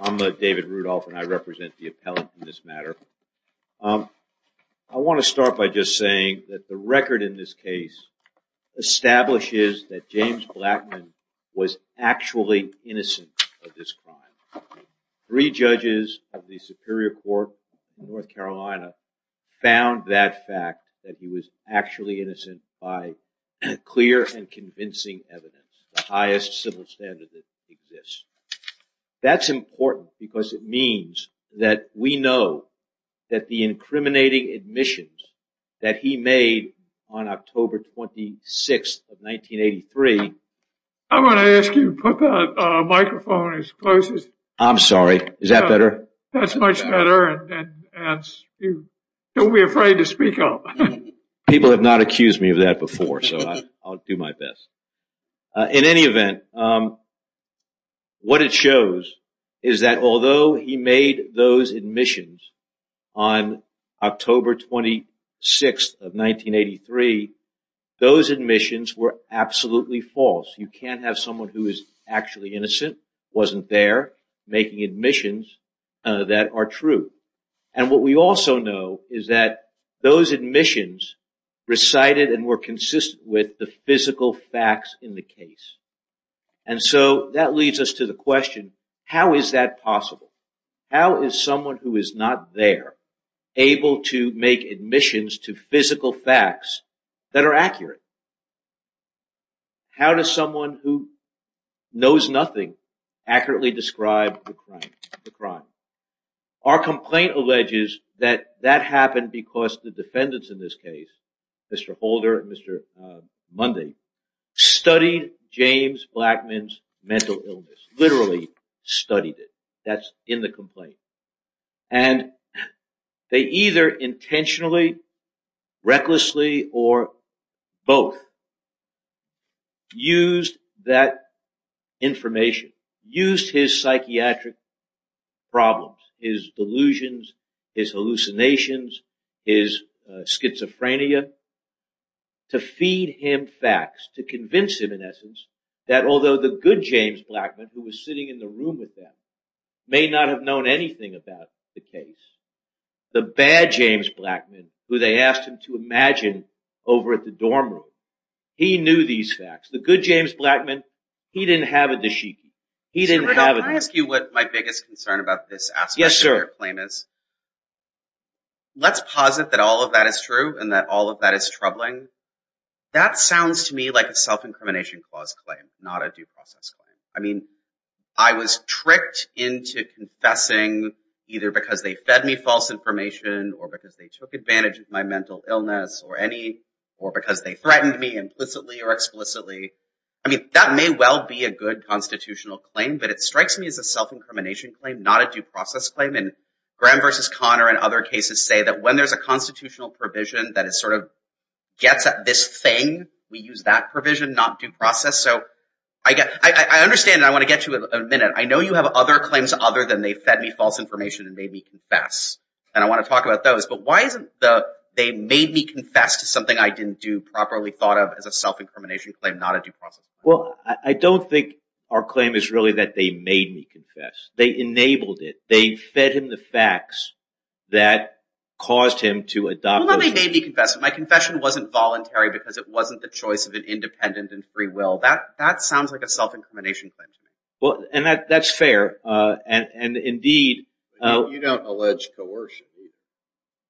I'm David Rudolph and I represent the appellant in this matter. I want to start by just saying that the record in this case establishes that James Blackmun was actually innocent of this crime. Three judges of the Superior Court in North Carolina found that fact that he was actually innocent by clear and convincing evidence, the highest civil standard that exists. That's important because it means that we know that the incriminating admissions that he made on October 26th of 1983... I'm going to ask you to put that microphone as close as... I'm sorry. Is that better? That's much better and don't be afraid to speak up. People have not accused me of that before so I'll do my best. In any event, what it shows is that although he made those admissions on October 26th of 1983, those admissions were absolutely false. You can't have someone who is actually innocent, wasn't there, making admissions that are true. What we also know is that those admissions recited and were consistent with the physical facts in the case. That leads us to the question, how is that possible? How is someone who is not there able to make admissions to physical facts that are accurate? How does someone who knows nothing accurately describe the crime? Our complaint alleges that that happened because the defendants in this case, Mr. Holder and Mr. Mundy, studied James Blackman's mental illness, literally studied it. That's in the complaint. And they either intentionally, recklessly, or both used that information, used his psychiatric problems, his delusions, his hallucinations, his schizophrenia to feed him facts, to convince him in essence that although the good James Blackman, who was sitting in the room with them, may not have known anything about the case, the bad James Blackman, who they asked him to imagine over at the dorm room, he knew these facts. The good James Blackman, he didn't have a dashiki. He didn't have a dashiki. Yes, sir. Let's posit that all of that is true and that all of that is troubling. That sounds to me like a self-incrimination clause claim, not a due process claim. I mean, I was tricked into confessing either because they fed me false information or because they took advantage of my mental illness or any, or because they threatened me implicitly or explicitly. I mean, that may well be a good constitutional claim, but it strikes me as a self-incrimination claim, not a due process claim. Graham versus Conner and other cases say that when there's a constitutional provision that it sort of gets at this thing, we use that provision, not due process. I understand, and I want to get to it in a minute. I know you have other claims other than they fed me false information and made me confess, and I want to talk about those, but why isn't the they made me confess to something I didn't do Well, I don't think our claim is really that they made me confess. They enabled it. They fed him the facts that caused him to adopt. Well, they made me confess, but my confession wasn't voluntary because it wasn't the choice of an independent and free will. That sounds like a self-incrimination claim to me.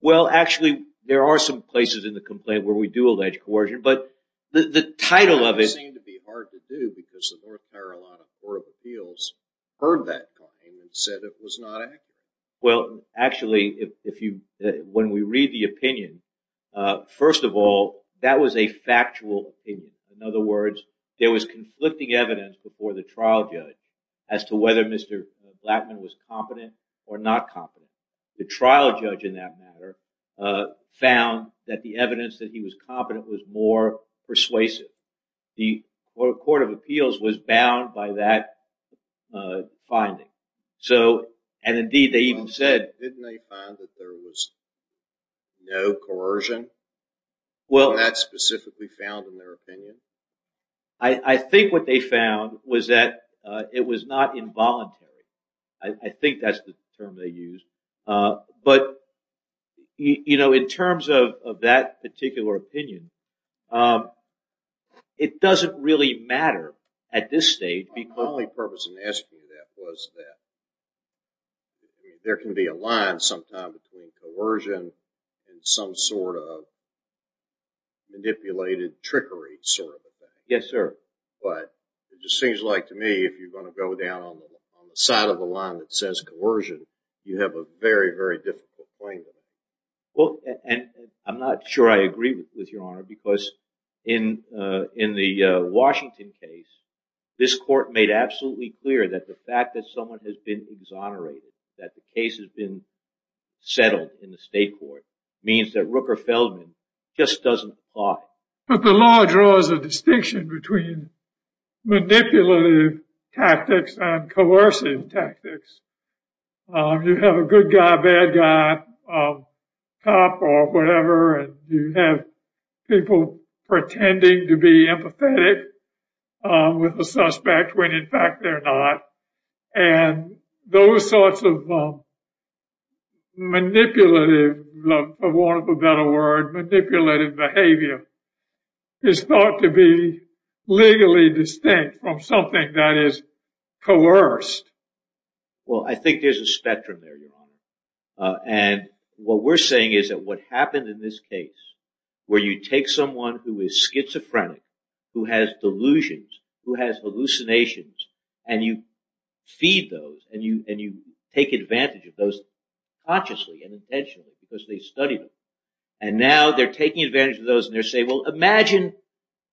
Well, actually, there are some places in the complaint where we do allege coercion, but the title of it seemed to be hard to do because the North Carolina Court of Appeals heard that claim and said it was not accurate. When we read the opinion, first of all, that was a factual opinion. In other words, there was conflicting evidence before the trial judge as to whether Mr. Blattman was competent or not competent. The trial judge in that matter found that the evidence that he was competent was more persuasive. The Court of Appeals was bound by that finding. So, and indeed they even said... Didn't they find that there was no coercion? Was that specifically found in their opinion? I think what they found was that it was not involuntary. I think that's the term they used. In terms of that particular opinion, it doesn't really matter at this stage because... My only purpose in asking you that was that there can be a line sometime between coercion and some sort of manipulated trickery sort of thing. But it just seems like to me if you're going to go down on the side of the line that says coercion, you have a very, very difficult claim to make. Well, and I'm not sure I agree with your honor because in the Washington case, this court made absolutely clear that the fact that someone has been exonerated, that the case has been settled in the state court means that Rooker Feldman just doesn't apply. But the law draws a distinction between manipulative tactics and coercive tactics. You have a good guy, bad guy, cop or whatever, and you have people pretending to be empathetic with the suspect when in fact they're not. And those sorts of manipulative, for want of a better word, manipulative behavior is thought to be legally distinct from something that is what we're saying is that what happened in this case where you take someone who is schizophrenic, who has delusions, who has hallucinations, and you feed those and you take advantage of those consciously and intentionally because they studied them. And now they're taking advantage of those and they're saying, well, imagine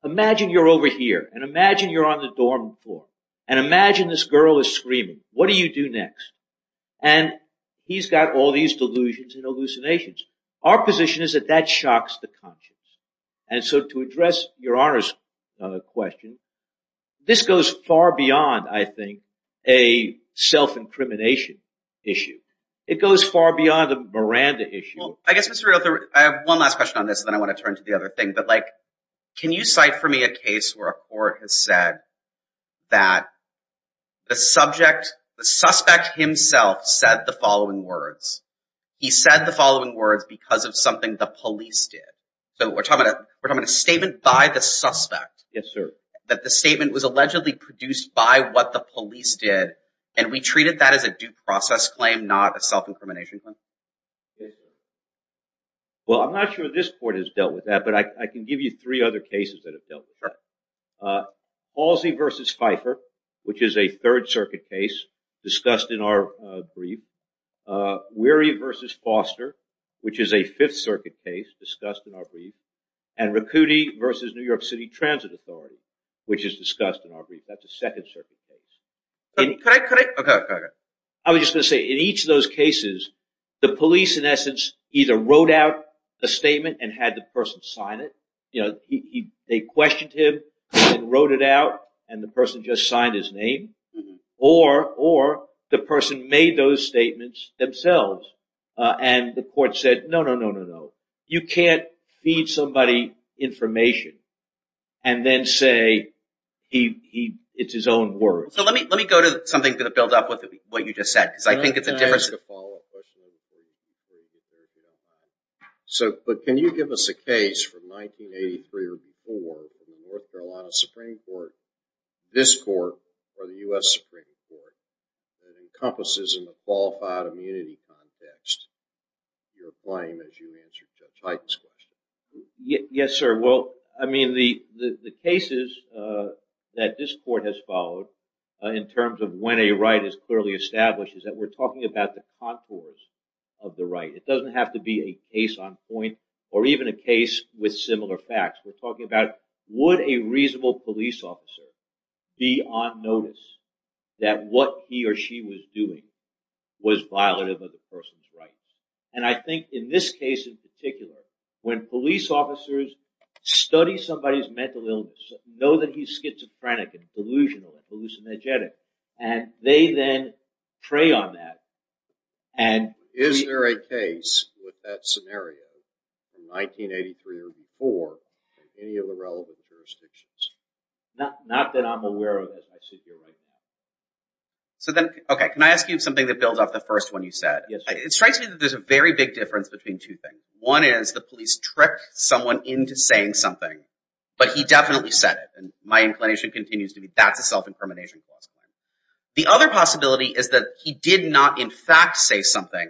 you're over here and imagine you're on the dorm floor and imagine this girl is screaming. What do you do next? And he's got all these delusions and hallucinations. Our position is that that shocks the conscience. And so to address Your Honor's question, this goes far beyond, I think, a self-incrimination issue. It goes far beyond a Miranda issue. Well, I guess, Mr. Reuther, I have one last question on this and then I want to turn to the other thing. But like, can you provide for me a case where a court has said that the subject, the suspect himself said the following words. He said the following words because of something the police did. So we're talking about a statement by the suspect. Yes, sir. That the statement was allegedly produced by what the police did and we treated that as a due process claim, not a self-incrimination claim. Well, I'm not sure this court has dealt with that, but I can give you three other cases that have dealt with that. Palsy versus Pfeiffer, which is a Third Circuit case discussed in our brief. Weary versus Foster, which is a Fifth Circuit case discussed in our brief. And Riccuti versus New York City Transit Authority, which is discussed in our brief. That's a Second Circuit case. I was just going to say, in each of those cases, the police in essence either wrote out a statement and had the person sign it. They questioned him and wrote it out and the person just signed his name or the person made those statements themselves and the court said, no, no, no, no, no. You can't feed somebody information and then say it's his own words. So let me go to something to build up with what you just said because I think it's a different... So, but can you give us a case from 1983 or before in the North Carolina Supreme Court, this court, or the U.S. Supreme Court that encompasses in the qualified immunity context your claim as you answered Judge Hyden's question? Yes, sir. Well, I mean, the cases that this court has followed in terms of when a right is clearly established is that we're talking about the contours of the right. It doesn't have to be a case on point or even a case with similar facts. We're talking about would a reasonable police officer be on notice that what he or she was doing was violative of the person's rights? And I think in this case in particular, when police officers study somebody's mental illness, know that he's schizophrenic and delusional and hallucinogenic and they then prey on that and... Is there a case with that scenario in 1983 or before in any of the relevant jurisdictions? Not that I'm aware of as I sit here right now. So then, okay, can I ask you something that builds off the first one you said? Yes, sir. It strikes me that there's a very big difference between two things. One is the police tricked someone into saying something, but he definitely said it. And my inclination continues to be that's a self-incrimination clause. The other possibility is that he did not in fact say something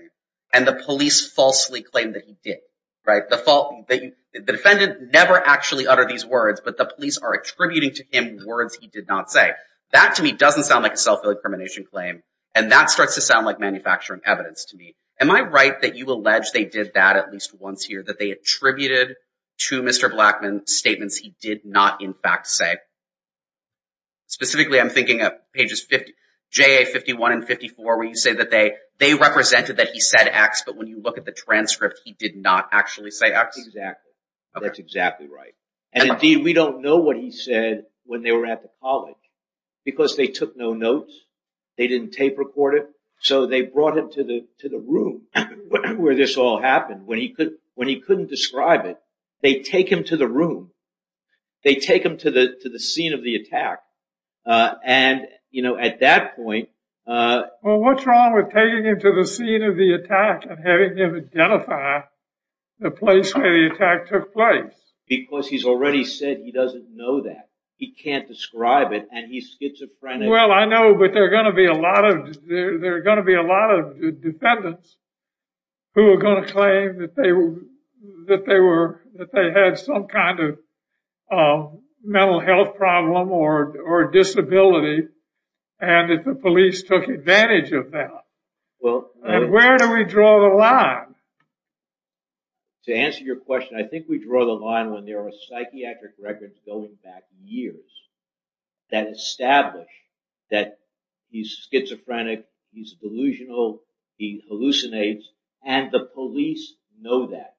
and the police falsely claim that he did. The defendant never actually uttered these words, but the police are attributing to him words he did not say. That to me doesn't sound like a self-incrimination claim, and that starts to sound like manufacturing evidence to me. Am I right that you allege they did that at least once here, that they attributed to Mr. Blackman statements he did not in fact say? Specifically, I'm thinking of pages 50, JA 51 and 54, where you say that they represented that he said X, but when you look at the transcript, he did not actually say X? Exactly. That's exactly right. And indeed, we don't know what he said when they were at the college because they took no notes. They didn't tape record it. So they brought him to the room where this all happened. When he couldn't describe it, they take him to the room. They take him to the scene of the attack. At that point... Well, what's wrong with taking him to the scene of the attack and having him identify the place where the attack took place? Because he's already said he doesn't know that. He can't describe it, and he's schizophrenic. Well, I know, but there are going to be a lot of defendants who are going to claim that they had some kind of mental health problem or disability and that the police took advantage of that. And where do we draw the line? To answer your question, I think we draw the line when there are psychiatric records going back years that establish that he's schizophrenic, he's delusional, he hallucinates, and the police know that.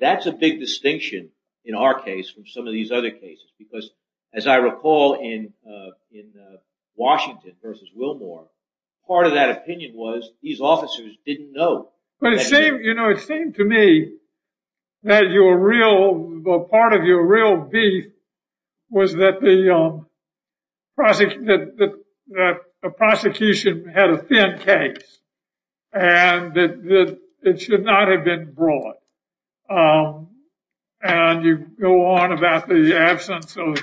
That's a big distinction in our case from some of these other cases, because as I recall in Washington v. Wilmore, part of that opinion was these officers didn't know. But it seemed to me that your real... That the prosecution had a thin case and that it should not have been brought. And you go on about the absence of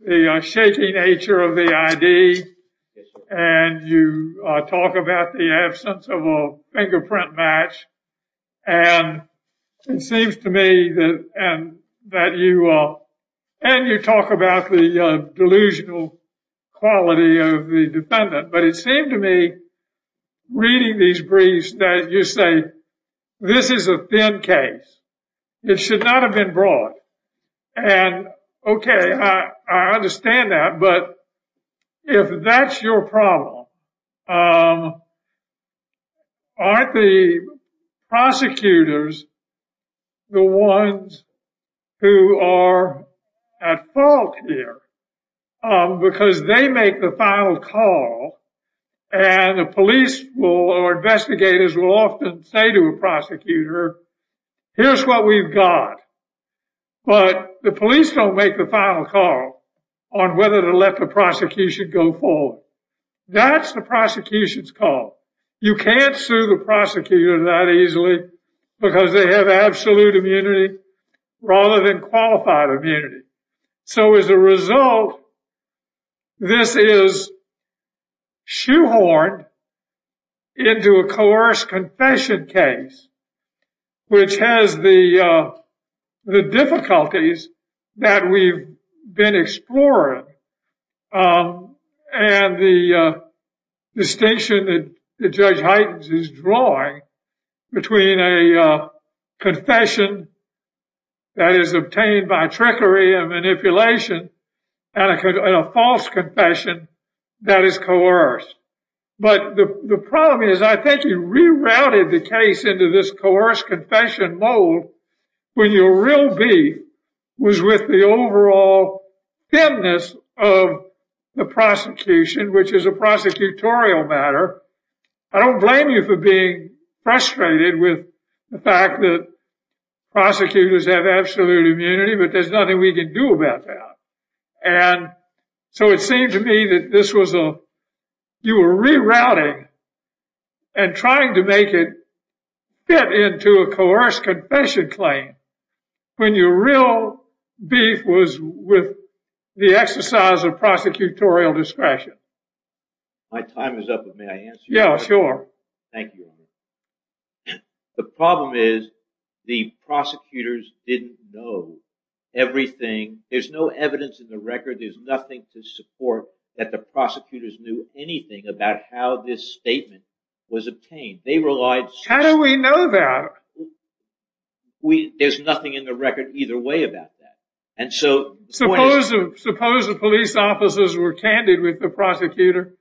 the shaky nature of the ID, and you talk about the absence of a fingerprint match, and it seems to me that and you talk about the delusional quality of the defendant. But it seemed to me, reading these briefs, that you say, this is a thin case. It should not have been brought. And okay, I understand that, but if that's your problem, aren't the prosecutors the ones who are at fault here? Because they make the final call, and the police or investigators will often say to a prosecutor, here's what we've got. But the police don't make the final call on whether to let the prosecution go forward. That's the prosecution's call. You can't sue the prosecutor that easily because they have absolute immunity rather than qualified immunity. So as a result, this is shoehorned into a coerced confession case, which has the difficulties that we've been exploring, and the distinction that Judge Heitens is drawing between a confession that is obtained by trickery and manipulation and a false confession that is coerced. But the real beef was with the overall thinness of the prosecution, which is a prosecutorial matter. I don't blame you for being frustrated with the fact that prosecutors have absolute immunity, but there's nothing we can do about that. So it seemed to me that you were rerouting and trying to make it fit into a coerced confession claim when your real beef was with the exercise of prosecutorial discretion. The problem is the prosecutors didn't know everything. There's no evidence in the record. There's nothing to support that the prosecutors knew anything about how this statement was obtained. How do we know that? There's nothing in the record either way about that. Suppose the police officers were candid with the prosecutor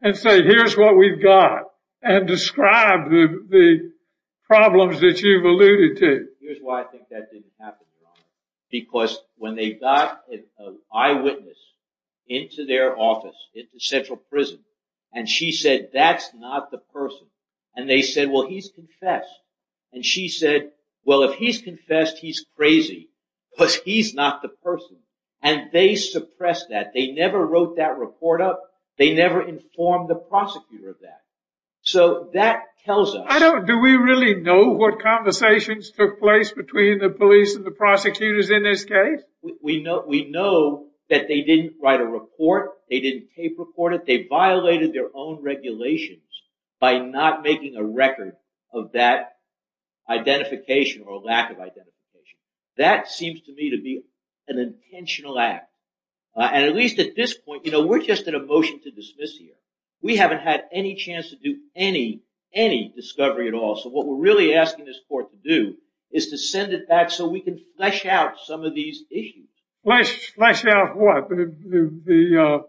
and said, here's what we've got and described the problems that you've alluded to. Here's why I think that didn't happen, because when they got an eyewitness into their office, into central prison, and she said, that's not the person. And they said, well, he's confessed. And she said, well, if he's confessed, he's crazy because he's not the person. And they suppressed that. They never wrote that report up. They never informed the prosecutor of that. So that tells us... Do we really know what conversations took place between the police and the prosecutors in this case? We know that they didn't write a report. They didn't tape report it. They violated their own regulations by not making a record of that identification or lack of identification. That seems to me to be an intentional act. And at least at this point, we're just in a motion to dismiss here. We haven't had any chance to do any discovery at all. So what we're really asking this court to do is to send it back so we can flesh out some of these issues. Flesh out what? The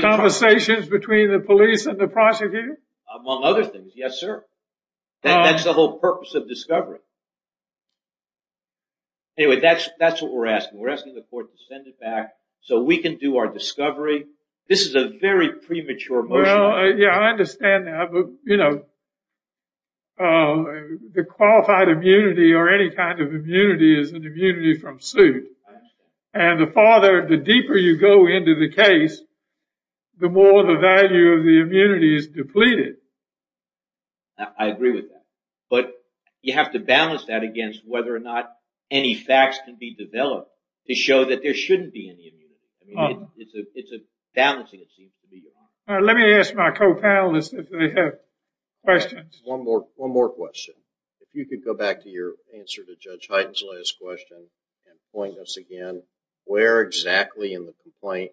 conversations between the police and the prosecutors? Among other things, yes, sir. That's the whole purpose of discovery. Anyway, that's what we're asking. We're asking the court to send it back so we can do our discovery. This is a very premature motion. Yeah, I understand that. But, you know, the qualified immunity or any kind of immunity is an immunity from suit. And the farther the deeper you go into the case, the more the value of the immunity is depleted. I agree with that. But you have to balance that against whether or not any facts can be developed to show that there shouldn't be any immunity. It's a balancing, it seems to me. Let me ask my co-panelists if they have questions. One more question. If you could go back to your answer to Judge Hyten's last question and point us again where exactly in the complaint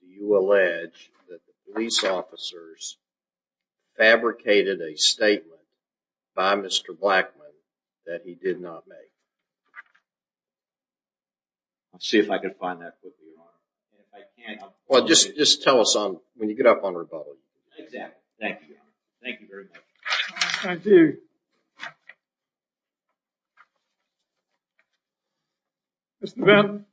you allege that the police officers fabricated a statement by Mr. Blackman that he did not make. I'll see if I can find that quickly, Your Honor. Well, just tell us when you get up on rebuttal. Thank you. Thank you very much. Thank you. Thank you. Mr. Benton.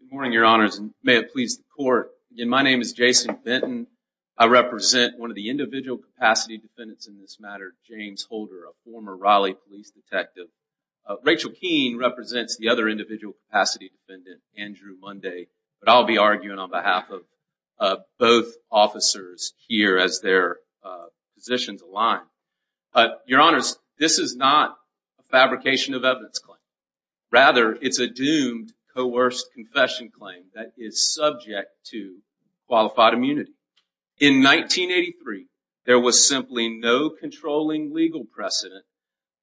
Good morning, Your Honors, and may it please the Court. Again, my name is Jason Benton. I represent one of the individual capacity defendants in this matter, James Holder, a former Raleigh police detective. Rachel Keene represents the other individual capacity defendant, Andrew Munday, but I'll be arguing on behalf of both officers here as their positions align. Your Honors, this is not a fabrication of evidence claim. Rather, it's a doomed, coerced confession claim that is subject to qualified immunity. In 1983, there was simply no controlling legal precedent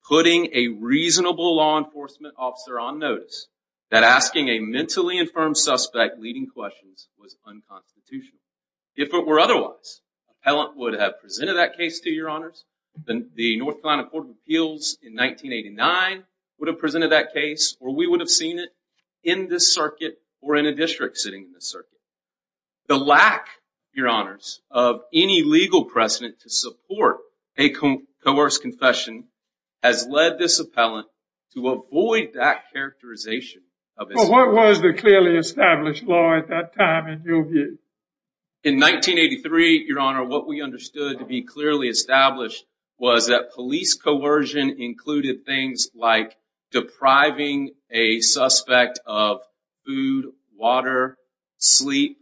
putting a reasonable law enforcement officer on notice that asking a mentally infirmed suspect leading questions was unconstitutional. If it were otherwise, an appellant would have presented that case to Your Honors. The North Carolina Court of Appeals in 1989 would have presented that case, or we would have seen it in this circuit or in a district sitting in this circuit. The lack, Your Honors, of any legal precedent to support a coerced confession has led this appellant to avoid that characterization. What was the clearly established law at that time in your view? In 1983, Your Honor, what we understood to be clearly established was that police coercion included things like depriving a suspect of food, water, sleep,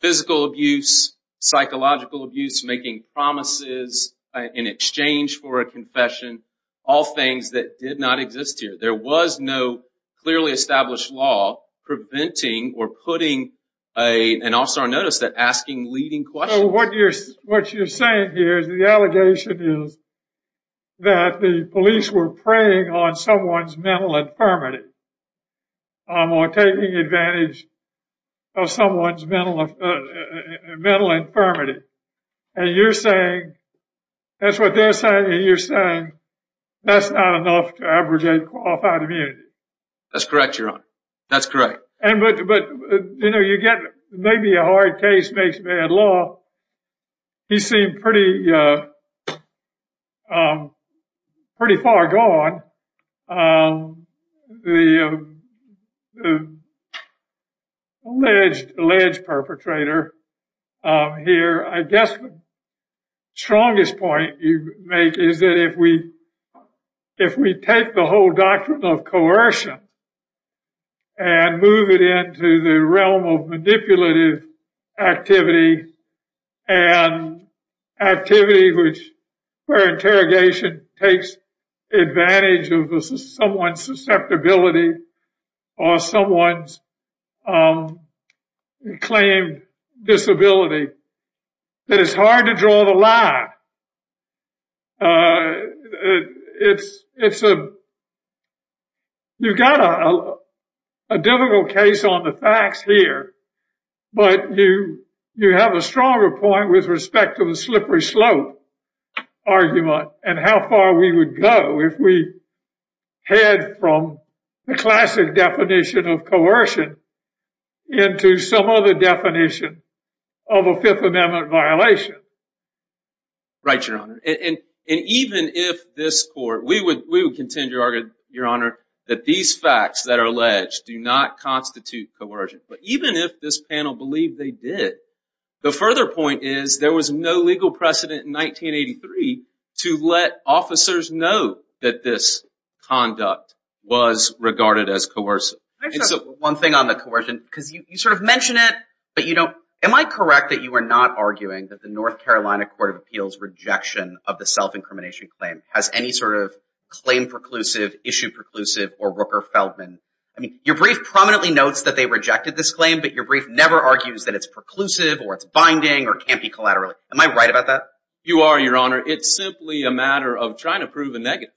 physical abuse, psychological abuse, making promises in exchange for a confession, all things that did not exist here. There was no clearly established law preventing or putting an officer on notice that asking leading questions... What you're saying here is the allegation is that the police were preying on someone's mental infirmity or taking advantage of someone's mental infirmity. And you're saying, that's what they're saying, and you're saying that's not enough to abrogate qualified immunity. That's correct, Your Honor. That's correct. But, you know, you get maybe a hard case makes bad law. He seemed pretty far gone, the alleged perpetrator here. I guess the strongest point you make is that if we take the whole doctrine of coercion and move it into the realm of manipulative activity and activity where interrogation takes advantage of someone's susceptibility or someone's claimed disability, that it's hard to draw the line. You've got a difficult case on the facts here, but you have a stronger point with respect to the slippery slope argument and how far we would go if we head from the classic definition of coercion into some other definition of a Fifth Amendment violation. Right, Your Honor. And even if this Court, we would contend, Your Honor, that these facts that are alleged do not constitute coercion. But even if this panel believed they did, the further point is there was no legal precedent in 1983 to let officers know that this conduct was regarded as coercive. Am I correct that you are not arguing that the North Carolina Court of Appeals rejection of the self-incrimination claim has any sort of claim preclusive, issue preclusive, or Rooker-Feldman? Your brief prominently notes that they rejected this claim, but your brief never argues that it's preclusive or it's binding or can't be collateral. Am I right about that? You are, Your Honor. It's simply a matter of trying to prove a negative.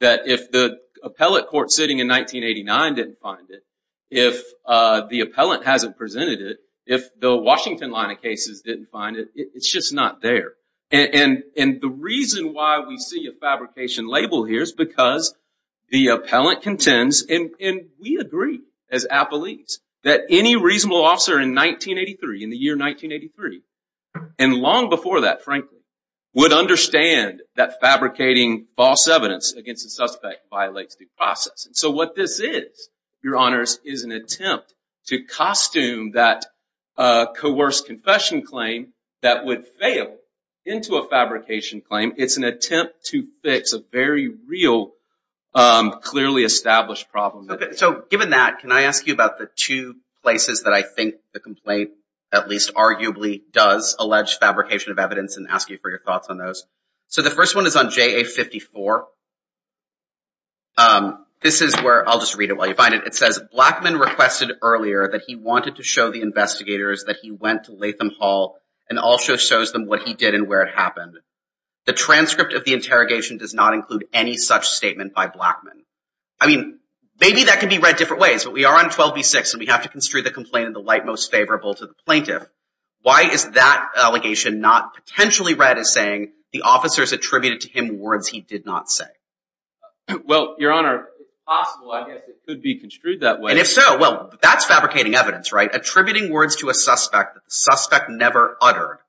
That if the appellate court sitting in 1989 didn't find it, if the appellant hasn't presented it, if the Washington line of cases didn't find it, it's just not there. And the reason why we see a fabrication label here is because the appellant contends, and we agree as appellees, that any reasonable officer in 1983, in the year 1983, and long before that, frankly, would understand that fabricating false evidence against a suspect violates the process. So what this is, Your Honors, is an attempt to costume that coerced confession claim that would fail into a fabrication claim. It's an attempt to fix a very real, clearly established problem. Okay. So given that, can I ask you about the two places that I think the complaint, at least arguably, does allege fabrication of evidence and ask you for your thoughts on those? So the first one is on JA-54. This is where, I'll just read it while you find it. It says, Blackmun requested earlier that he wanted to show the investigators that he went to Latham Hall and also shows them what he did and where it happened. I mean, maybe that can be read different ways, but we are on 12b-6 and we have to construe the complaint in the light most favorable to the plaintiff. Why is that allegation not potentially read as saying the officers attributed to him words he did not say? Well, Your Honor, if possible, I guess it could be construed that way. And if so, well, that's fabricating evidence, right? Attributing words to a suspect that the suspect never uttered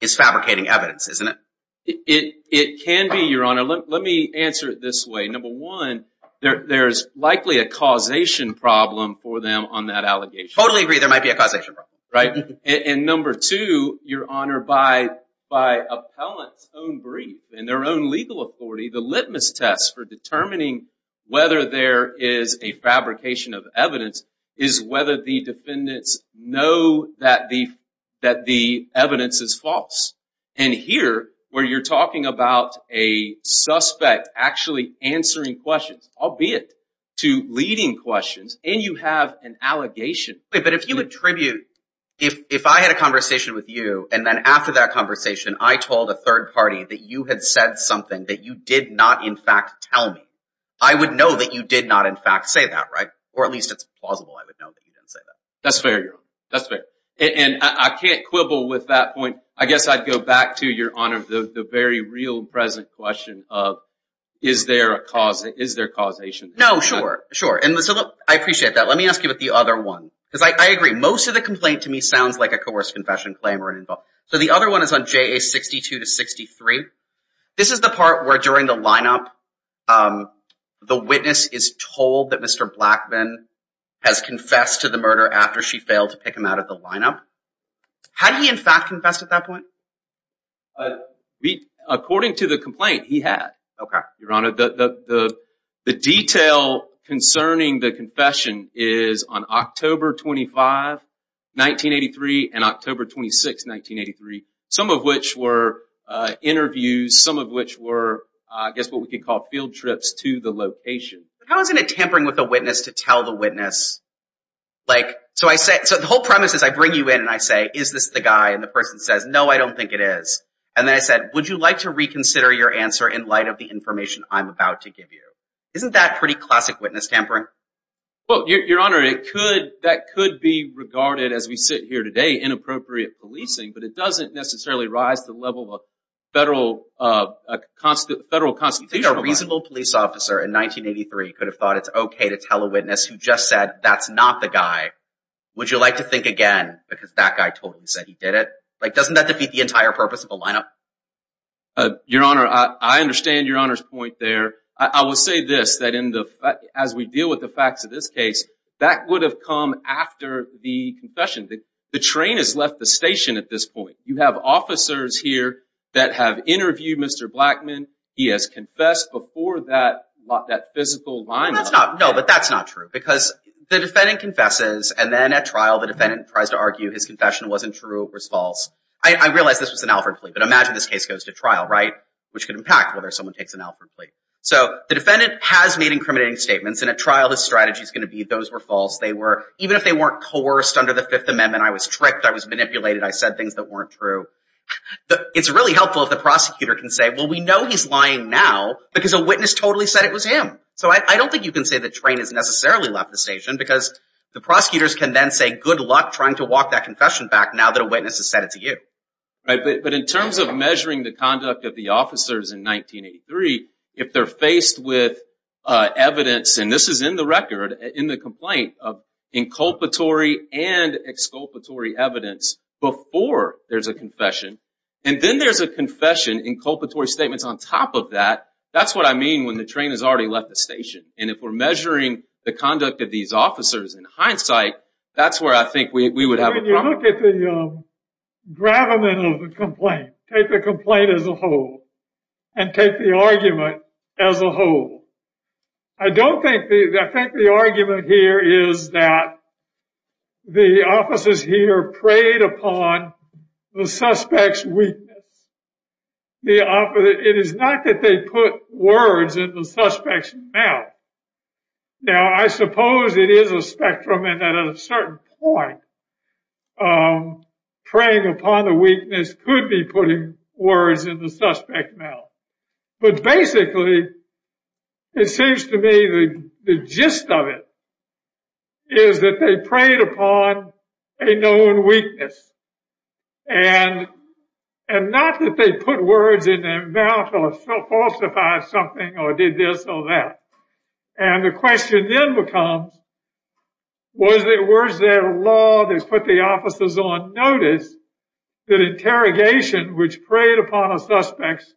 is fabricating evidence, isn't it? It can be, Your Honor. Let me answer it this way. Number one, there's likely a causation problem for them on that allegation. Totally agree. There might be a causation problem. Right? And number two, Your Honor, by appellant's own brief and their own legal authority, the litmus test for determining whether there is a fabrication of evidence is whether the defendants know that the evidence is false. And here, where you're talking about a suspect actually answering questions, albeit to leading questions, and you have an allegation. But if you attribute, if I had a conversation with you, and then after that conversation, I told a third party that you had said something that you did not in fact tell me, I would know that you did not in fact say that, right? Or at least it's plausible I would know that you didn't say that. That's fair, Your Honor. That's fair. And I can't quibble with that point. I guess I'd go back to, Your Honor, the very real present question of is there a causation? No, sure. Sure. And so, look, I appreciate that. Let me ask you about the other one. Because I agree. Most of the complaint to me sounds like a coerced confession claim. So the other one is on JA62-63. This is the part where during the lineup, the witness is told that Mr. Blackman has confessed to the murder after she failed to pick him out of the lineup. Had he in fact confessed at that point? According to the complaint, he had, Your Honor. The detail concerning the confession is on October 25, 1983 and October 26, 1983. Some of which were interviews. Some of which were, I guess, what we could call field trips to the location. How is it tampering with a witness to tell the witness? So the whole premise is I bring you in and I say, is this the guy? And the person says, no, I don't think it is. And then I said, would you like to reconsider your answer in light of the information I'm about to give you? Isn't that pretty classic witness tampering? Well, Your Honor, that could be regarded as we sit here today, inappropriate policing, but it doesn't necessarily rise to the level of federal constitutional... You think a reasonable police officer in 1983 could have thought it's okay to tell a witness who just said that's not the guy, would you like to think again because that guy told you he said he did it? Doesn't that defeat the entire purpose of a lineup? Your Honor, I understand Your Honor's point there. I will say this, that as we deal with the facts of this case, that would have come after the confession. The train has left the station at this point. You have officers here that have interviewed Mr. Blackman. He has confessed before that physical line. No, but that's not true because the defendant confesses and then at trial the defendant tries to argue his confession wasn't true, it was false. I realize this was an Alford plea, but imagine this case goes to trial, right, which could impact whether someone takes an Alford plea. So the defendant has made incriminating statements and at trial his strategy is going to be those were false. They were, even if they weren't coerced under the Fifth Amendment, I was tricked, I was manipulated, I said things that weren't true. It's really helpful if the prosecutor can say, well, we know he's lying now because a witness totally said it was him. So I don't think you can say the train has necessarily left the station because the prosecutors can then say good luck trying to walk that confession back now that a witness has said it to you. But in terms of measuring the conduct of the officers in 1983, if they're faced with evidence, and this is in the record, in the complaint, of inculpatory and exculpatory evidence before there's a confession, and then there's a confession, inculpatory statements on top of that, that's what I mean when the train has already left the station. And if we're measuring the conduct of these officers in hindsight, that's where I think we would have a problem. When you look at the gravamen of the complaint, take the complaint as a whole and take the argument as a whole. I don't think, I think the argument here is that the suspect's weakness, it is not that they put words in the suspect's mouth. Now, I suppose it is a spectrum and at a certain point, preying upon the weakness could be putting words in the suspect's mouth. But basically, it seems to me the gist of it is that they preyed upon a known weakness. And not that they put words in their mouth or falsified something or did this or that. And the question then becomes, was there a law that put the officers on notice that interrogation, which preyed upon a suspect's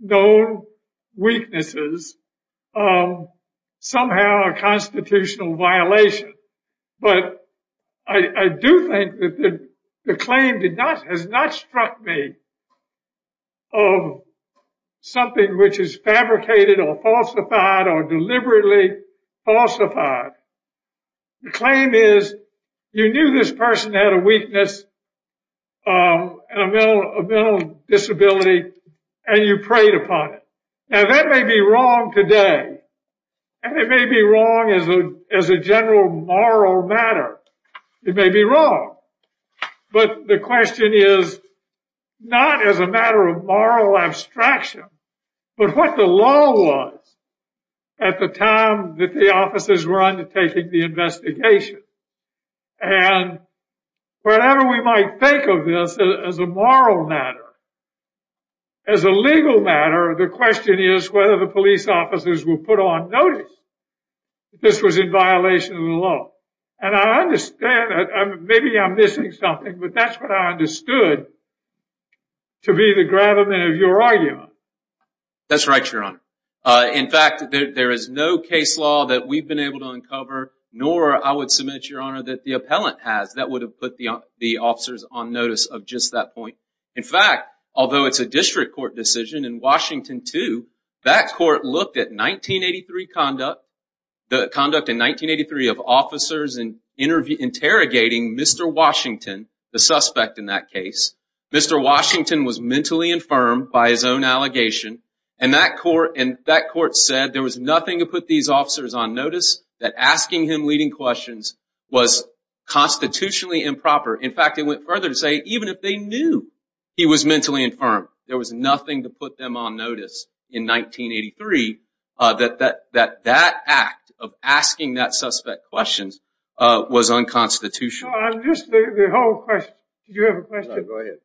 known weaknesses, somehow a constitutional violation. But I do think that the claim has not struck me of something which is fabricated or falsified or deliberately falsified. The claim is you knew this person had a weakness and a may be wrong today. And it may be wrong as a general moral matter. It may be wrong. But the question is not as a matter of moral abstraction, but what the law was at the time that the officers were undertaking the investigation. And whatever we might think of this as a moral matter, as a legal matter, the question is whether the police officers were put on notice that this was in violation of the law. And I understand, maybe I'm missing something, but that's what I understood to be the gravamen of your argument. That's right, Your Honor. In fact, there is no case law that we've been able to uncover, nor I would submit, Your Honor, that the appellant has that would have put the officers on notice of just that point. In fact, although it's a district court decision in Washington, too, that court looked at 1983 conduct, the conduct in 1983 of officers interrogating Mr. Washington, the suspect in that case. Mr. Washington was mentally infirmed by his own allegation. And that court said there was nothing to put these officers on notice, that asking him leading questions was constitutionally improper. In fact, it went further to say even if they knew he was mentally infirmed, there was nothing to put them on notice in 1983 that that act of asking that suspect questions was unconstitutional. I'm just, the whole question, do you have a question? No, go ahead.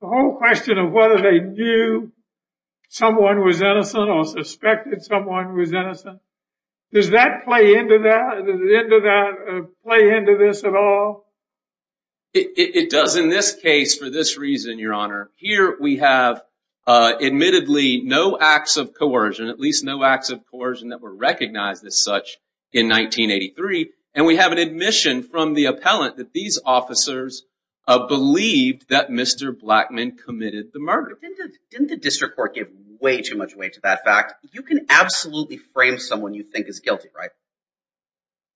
The whole question of whether they knew someone was innocent or suspected someone was innocent, does that play into that? Does it play into this at all? It does in this case for this reason, Your Honor. Here we have admittedly no acts of coercion, at least no acts of coercion that were recognized as such in 1983. And we have an admission from the appellant that these officers believed that Mr. Blackmun committed the murder. Didn't the district court give way too much weight to that fact? You can absolutely frame someone you think is guilty, right?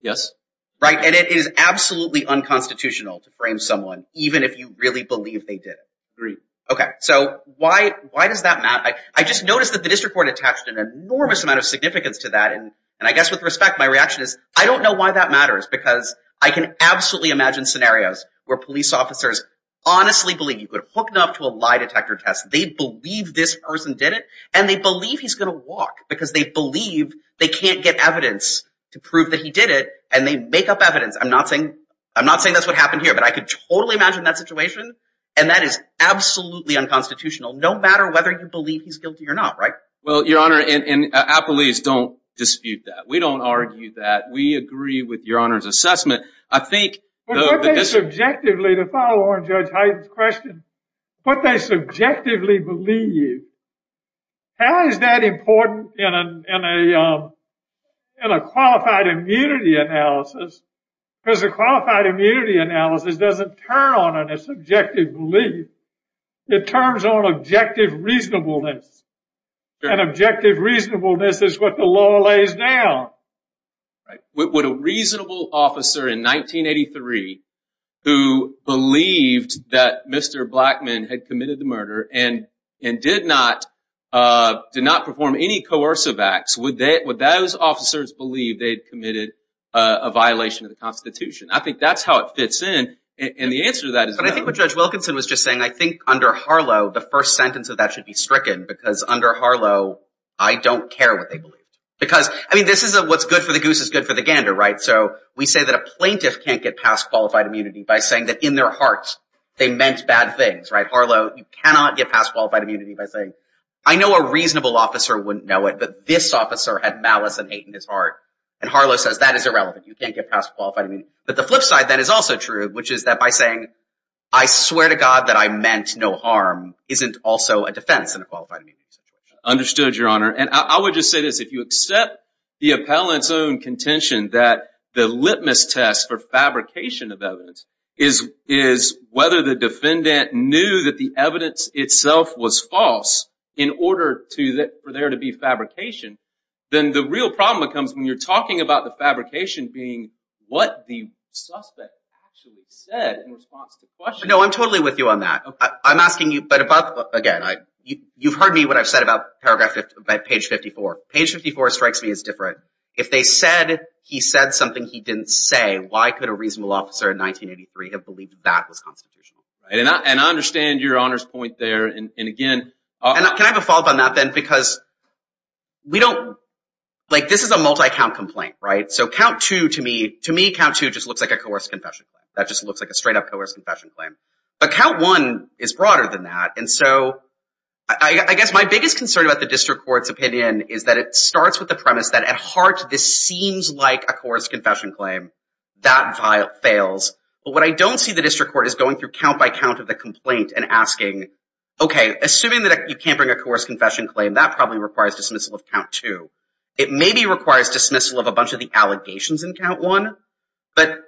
Yes. Right, and it is absolutely unconstitutional to frame someone even if you really believe they did it. Agreed. Okay, so why does that matter? I just noticed that the district court attached an enormous amount of significance to that. And I guess with respect, my reaction is I don't know why that matters because I can absolutely imagine scenarios where police officers honestly believe you could hook them up to a lie detector test. They believe this person did it and they believe he's going to walk because they believe they can't get evidence to prove that he did it and they make up evidence. I'm not saying that's what happened here, but I could totally imagine that situation and that is absolutely unconstitutional no matter whether you believe he's guilty or not, right? Well, Your Honor, and appellees don't dispute that. We don't argue that. We agree with Your Honor's assessment. I think... But what they subjectively, to follow on Judge Hyden's question, what they subjectively believe, how is that important in a qualified immunity analysis? Because a qualified immunity analysis doesn't turn on a subjective belief. It turns on objective reasonableness. And objective reasonableness is what the law lays down. Would a reasonable officer in 1983 who believed that Mr. Blackmun had committed the murder and did not perform any coercive acts, would those officers believe they'd committed a violation of the Constitution? I think that's how it fits in. And the answer to that is no. But I think what Judge Wilkinson was just saying, I think under Harlow, the first sentence of that should be stricken because under Harlow, I don't care what they believe. Because, I mean, this is what's good for the goose is good for the gander, right? So we say that a plaintiff can't get past qualified immunity by saying that in their hearts they meant bad things, right? Harlow, you cannot get past qualified immunity by saying, I know a reasonable officer wouldn't know it, but this officer had malice and hate in his heart. And Harlow says that is irrelevant. You can't get past qualified immunity. But the flip side that is also true, which is that by saying, I swear to God that I meant no harm, isn't also a defense in a qualified immunity situation. Understood, Your Honor. And I would just say this. If you accept the appellant's own contention that the defendant knew that the evidence itself was false in order for there to be fabrication, then the real problem becomes when you're talking about the fabrication being what the suspect actually said in response to the question. No, I'm totally with you on that. I'm asking you, but again, you've heard me, what I've said about paragraph, page 54. Page 54 strikes me as different. If they said he said something he didn't say, why could a reasonable officer in 1983 have believed that was constitutional? And I understand Your Honor's point there. And again. Can I have a follow up on that then? Because we don't, like this is a multi-count complaint, right? So count two to me, to me, count two just looks like a coerced confession claim. That just looks like a straight up coerced confession claim. But count one is broader than that. And so I guess my biggest concern about the district court's opinion is that it starts with the premise that at heart this seems like a coerced confession claim. That fails. But what I don't see the district court is going through count by count of the complaint and asking, okay, assuming that you can't bring a coerced confession claim, that probably requires dismissal of count two. It maybe requires dismissal of a bunch of the allegations in count one. But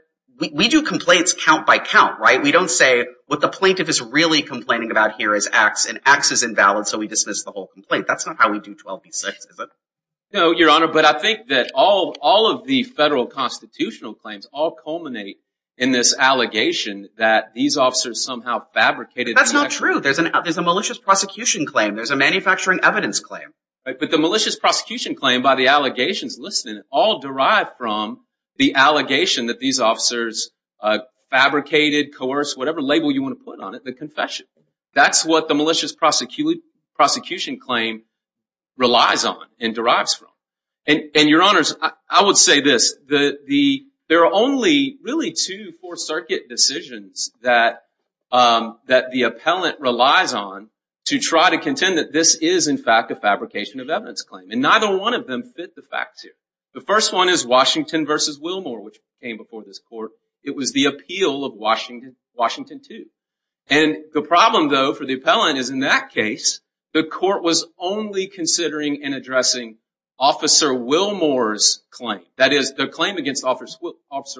we do complaints count by count, right? We don't say what the plaintiff is really saying. No, Your Honor. But I think that all of the federal constitutional claims all culminate in this allegation that these officers somehow fabricated That's not true. There's a malicious prosecution claim. There's a manufacturing evidence claim. But the malicious prosecution claim by the allegations listed all derive from the allegation that these officers fabricated, coerced, whatever label you want to put on it, the relies on and derives from. And Your Honors, I would say this. There are only really two Fourth Circuit decisions that the appellant relies on to try to contend that this is, in fact, a fabrication of evidence claim. And neither one of them fit the facts here. The first one is Washington v. Willmore, which came before this court. It was the appeal of Washington II. And the problem, though, for the appellant is in that case, the court was only considering and addressing Officer Willmore's claim. That is, the claim against Officer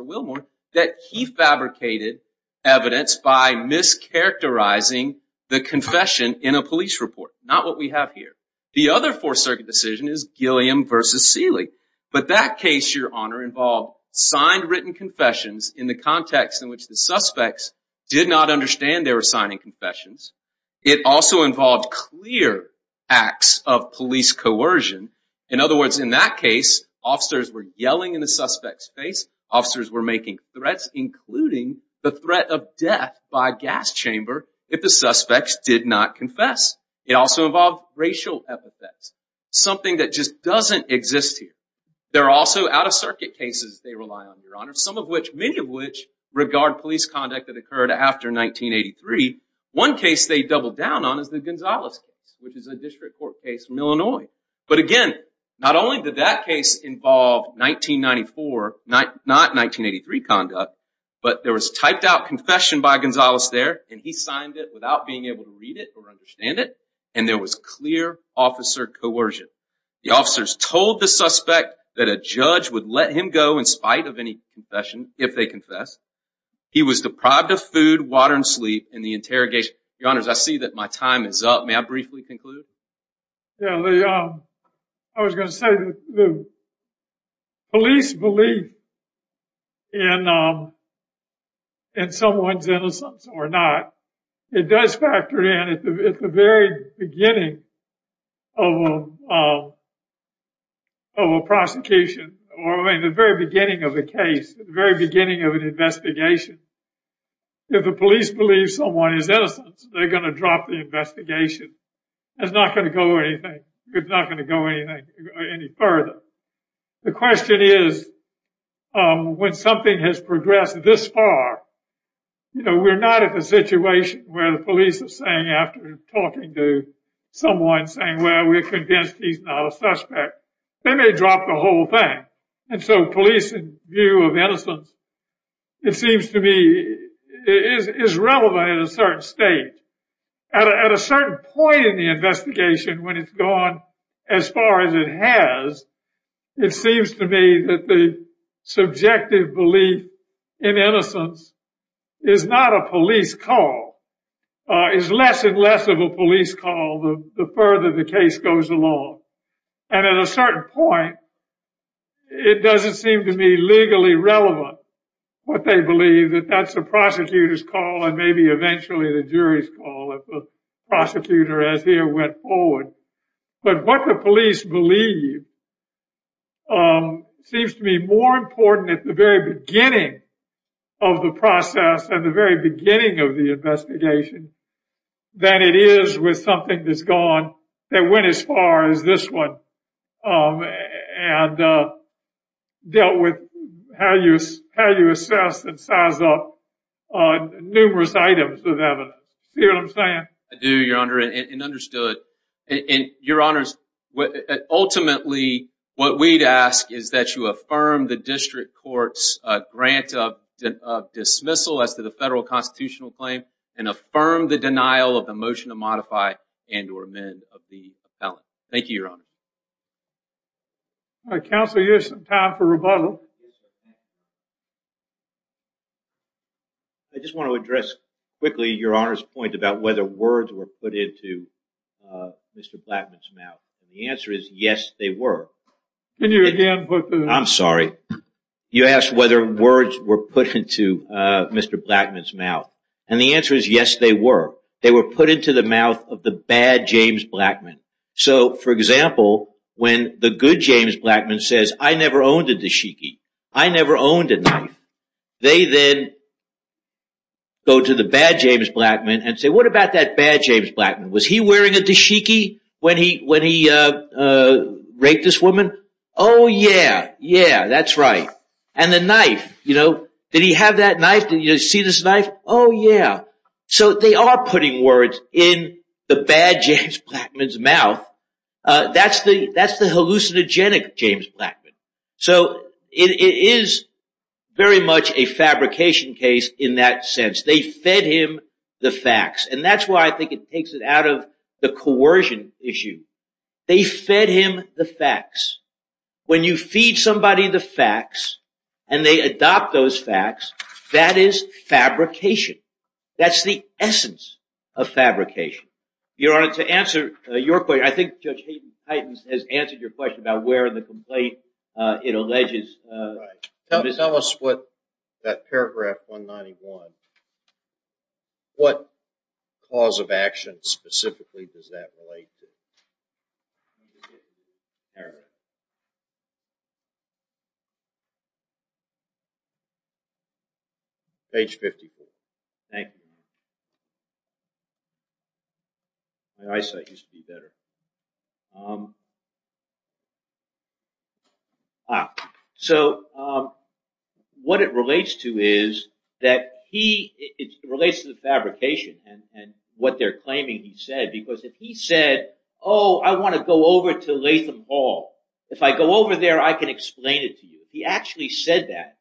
Willmore that he fabricated evidence by mischaracterizing the confession in a police report. Not what we have here. The other Fourth Circuit decision is Gilliam v. Seeley. But that case, Your Honor, involved signed written confessions in the context in which the suspects did not understand they were signing confessions. It also involved clear acts of police coercion. In other words, in that case, officers were yelling in the suspect's face. Officers were making threats, including the threat of death by gas chamber if the suspects did not confess. It also involved racial epithets, something that just doesn't exist here. There are also out-of-circuit cases they rely on, Your Honor, some of which, many of which, regard police conduct that occurred after 1983. One case they double down on is the Gonzales case, which is a district court case from Illinois. But again, not only did that case involve 1994, not 1983 conduct, but there was typed out confession by Gonzales there, and he signed it without being able to read it or understand it, and there was clear officer coercion. The officers told the suspect that a judge would let him go in spite of any confession if they confessed. He was deprived of food, water, and sleep in the interrogation. Your Honors, I see that my time is up. May I briefly conclude? Yeah, Lee. I was going to say that the police belief in someone's innocence or not, it does factor in at the very beginning of a prosecution, or in the very beginning of a case, the very beginning of an investigation. If the police believe someone is innocent, they're going to drop the investigation. It's not going to go any further. The question is, when something has progressed this far, you know, we're not at the situation where the police are saying, after talking to someone, saying, well, we're convinced he's not a suspect. They may drop the whole thing. And so police view of innocence, it seems to me, is relevant at a certain stage. At a certain point in the investigation, when it's gone as far as it has, it seems to me that the subjective belief in innocence is not a police call. It's less and less of a police call the further the case goes along. And at a certain point, it doesn't seem to me legally relevant what they believe, that that's a prosecutor's call, and maybe eventually the jury's call if the prosecutor, as here, went forward. But what the police believe seems to be more important at the very beginning of the process and the very beginning of the investigation than it is with something that's gone, that went as far as this one and dealt with how you assess and size up numerous items of evidence. See what I'm saying? I do, Your Honor, and understood. And, Your Honors, ultimately, what we'd ask is that you affirm the district court's grant of dismissal as to the federal constitutional claim and affirm the denial of the motion to modify and or amend of the appellant. Thank you, Your Honor. Counsel, you have some time for rebuttal. I just want to address quickly Your Honor's point about whether words were put into Mr. Blackman's mouth. The answer is yes, they were. I'm sorry. You asked whether words were put into Mr. Blackman's mouth. And the answer is yes, they were. They were put into the mouth of the bad James Blackman. So, for example, when the good James Blackman says, I never owned a dashiki, I never owned a knife, they then go to the bad James Blackman and say, what about that bad James Blackman? Was he wearing a dashiki when he said that? Yeah, yeah, that's right. And the knife, you know, did he have that knife? Did you see this knife? Oh, yeah. So, they are putting words in the bad James Blackman's mouth. That's the hallucinogenic James Blackman. So, it is very much a fabrication case in that sense. They fed him the facts. And that's why I think it takes it out of the coercion issue. They fed him the facts. When you feed somebody the facts and they adopt those facts, that is fabrication. That's the essence of fabrication. Your Honor, to answer your question, I think Judge Hayden Titans has answered your question about where in the complaint it alleges. Tell us what that paragraph specifically does that relate to. Page 54. Thank you. My eyesight used to be better. So, what it relates to is that he, it relates to the fabrication and what they're claiming he said. Because if he said, oh, I want to go over to Latham Hall. If I go over there, I can explain it to you. He actually said that.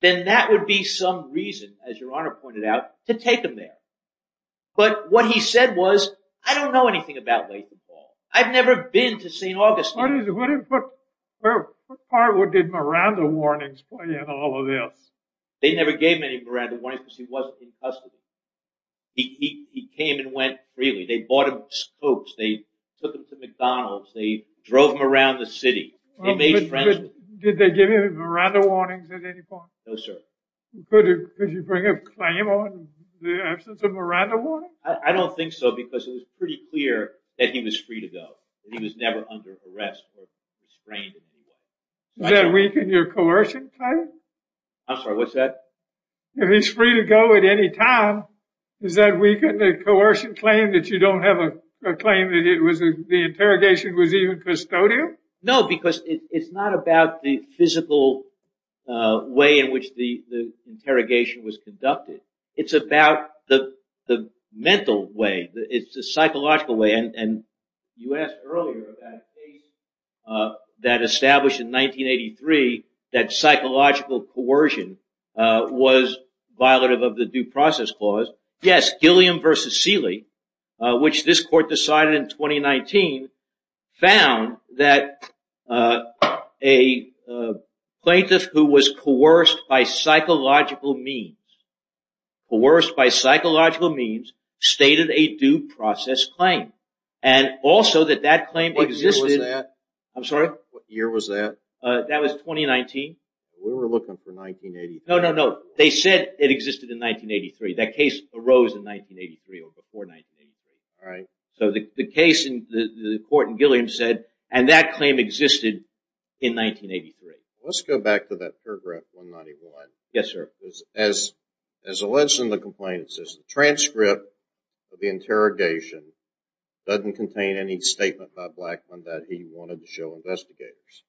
Then that would be some reason, as your Honor pointed out, to take him there. But what he said was, I don't know anything about Latham Hall. I've never been to St. Augustine. What part did Miranda warnings play in all of this? They never gave him any Miranda warnings because he wasn't in custody. He came and went freely. They bought him scopes. They took him to McDonald's. They drove him around the city. Did they give him any Miranda warnings at any point? No, sir. Could you bring a claim on the absence of Miranda warnings? I don't think so, because it was pretty clear that he was free to go. He was never under arrest or restrained. Does that weaken your coercion claim? I'm sorry, what's that? If he's free to go at any time, does that weaken the coercion claim that you don't have a claim that the interrogation was even custodial? No, because it's not about the physical way in it's about the mental way. It's the psychological way. You asked earlier about a case that established in 1983 that psychological coercion was violative of the due process clause. Yes, Gilliam v. Seeley, which this court decided in 2019, found that a person coerced by psychological means stated a due process claim. What year was that? I'm sorry? What year was that? That was 2019. We were looking for 1983. No, no, no. They said it existed in 1983. That case arose in 1983 or before 1983. The court in Gilliam said, and that claim existed in 1983. Let's go back to that paragraph 191. Yes, sir. As alleged in the complaint, it says the transcript of the interrogation doesn't contain any statement by Blackmun that he wanted to show investigators.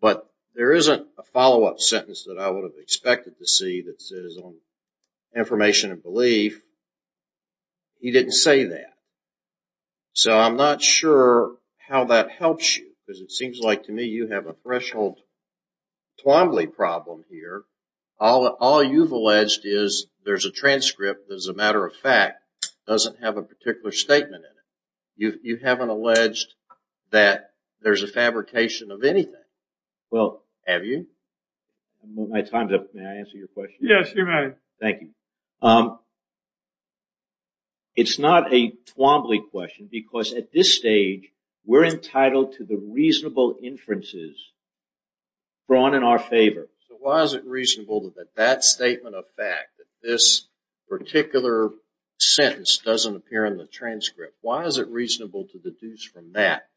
But there isn't a follow-up sentence that I would have expected to see that says information and belief. He didn't say that. So I'm not sure how that helps you because it seems like to me you have a threshold Twombly problem here. All you've alleged is there's a transcript that, as a matter of fact, doesn't have a particular statement in it. You haven't alleged that there's a fabrication of anything, have you? I'm moving my times up. May I answer your question? Yes, you may. Thank you. It's not a Twombly question because at this stage we're entitled to the reasonable inferences drawn in our favor. So why is it reasonable that that statement of fact, that this particular sentence doesn't appear in the transcript, why is it reasonable to deduce from that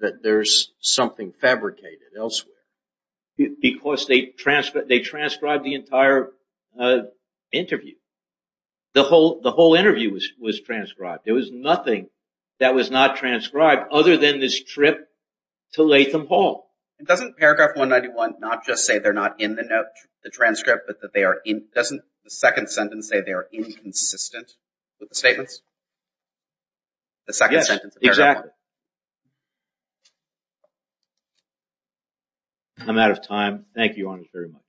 that there's something fabricated elsewhere? Because they transcribed the entire interview. The whole interview was transcribed. There was nothing that was not transcribed other than this trip to Latham Hall. Doesn't paragraph 191 not just say they're not in the note, the transcript, but doesn't the second sentence say they are inconsistent with the statements? Yes, exactly. I'm out of time. Thank you all very much.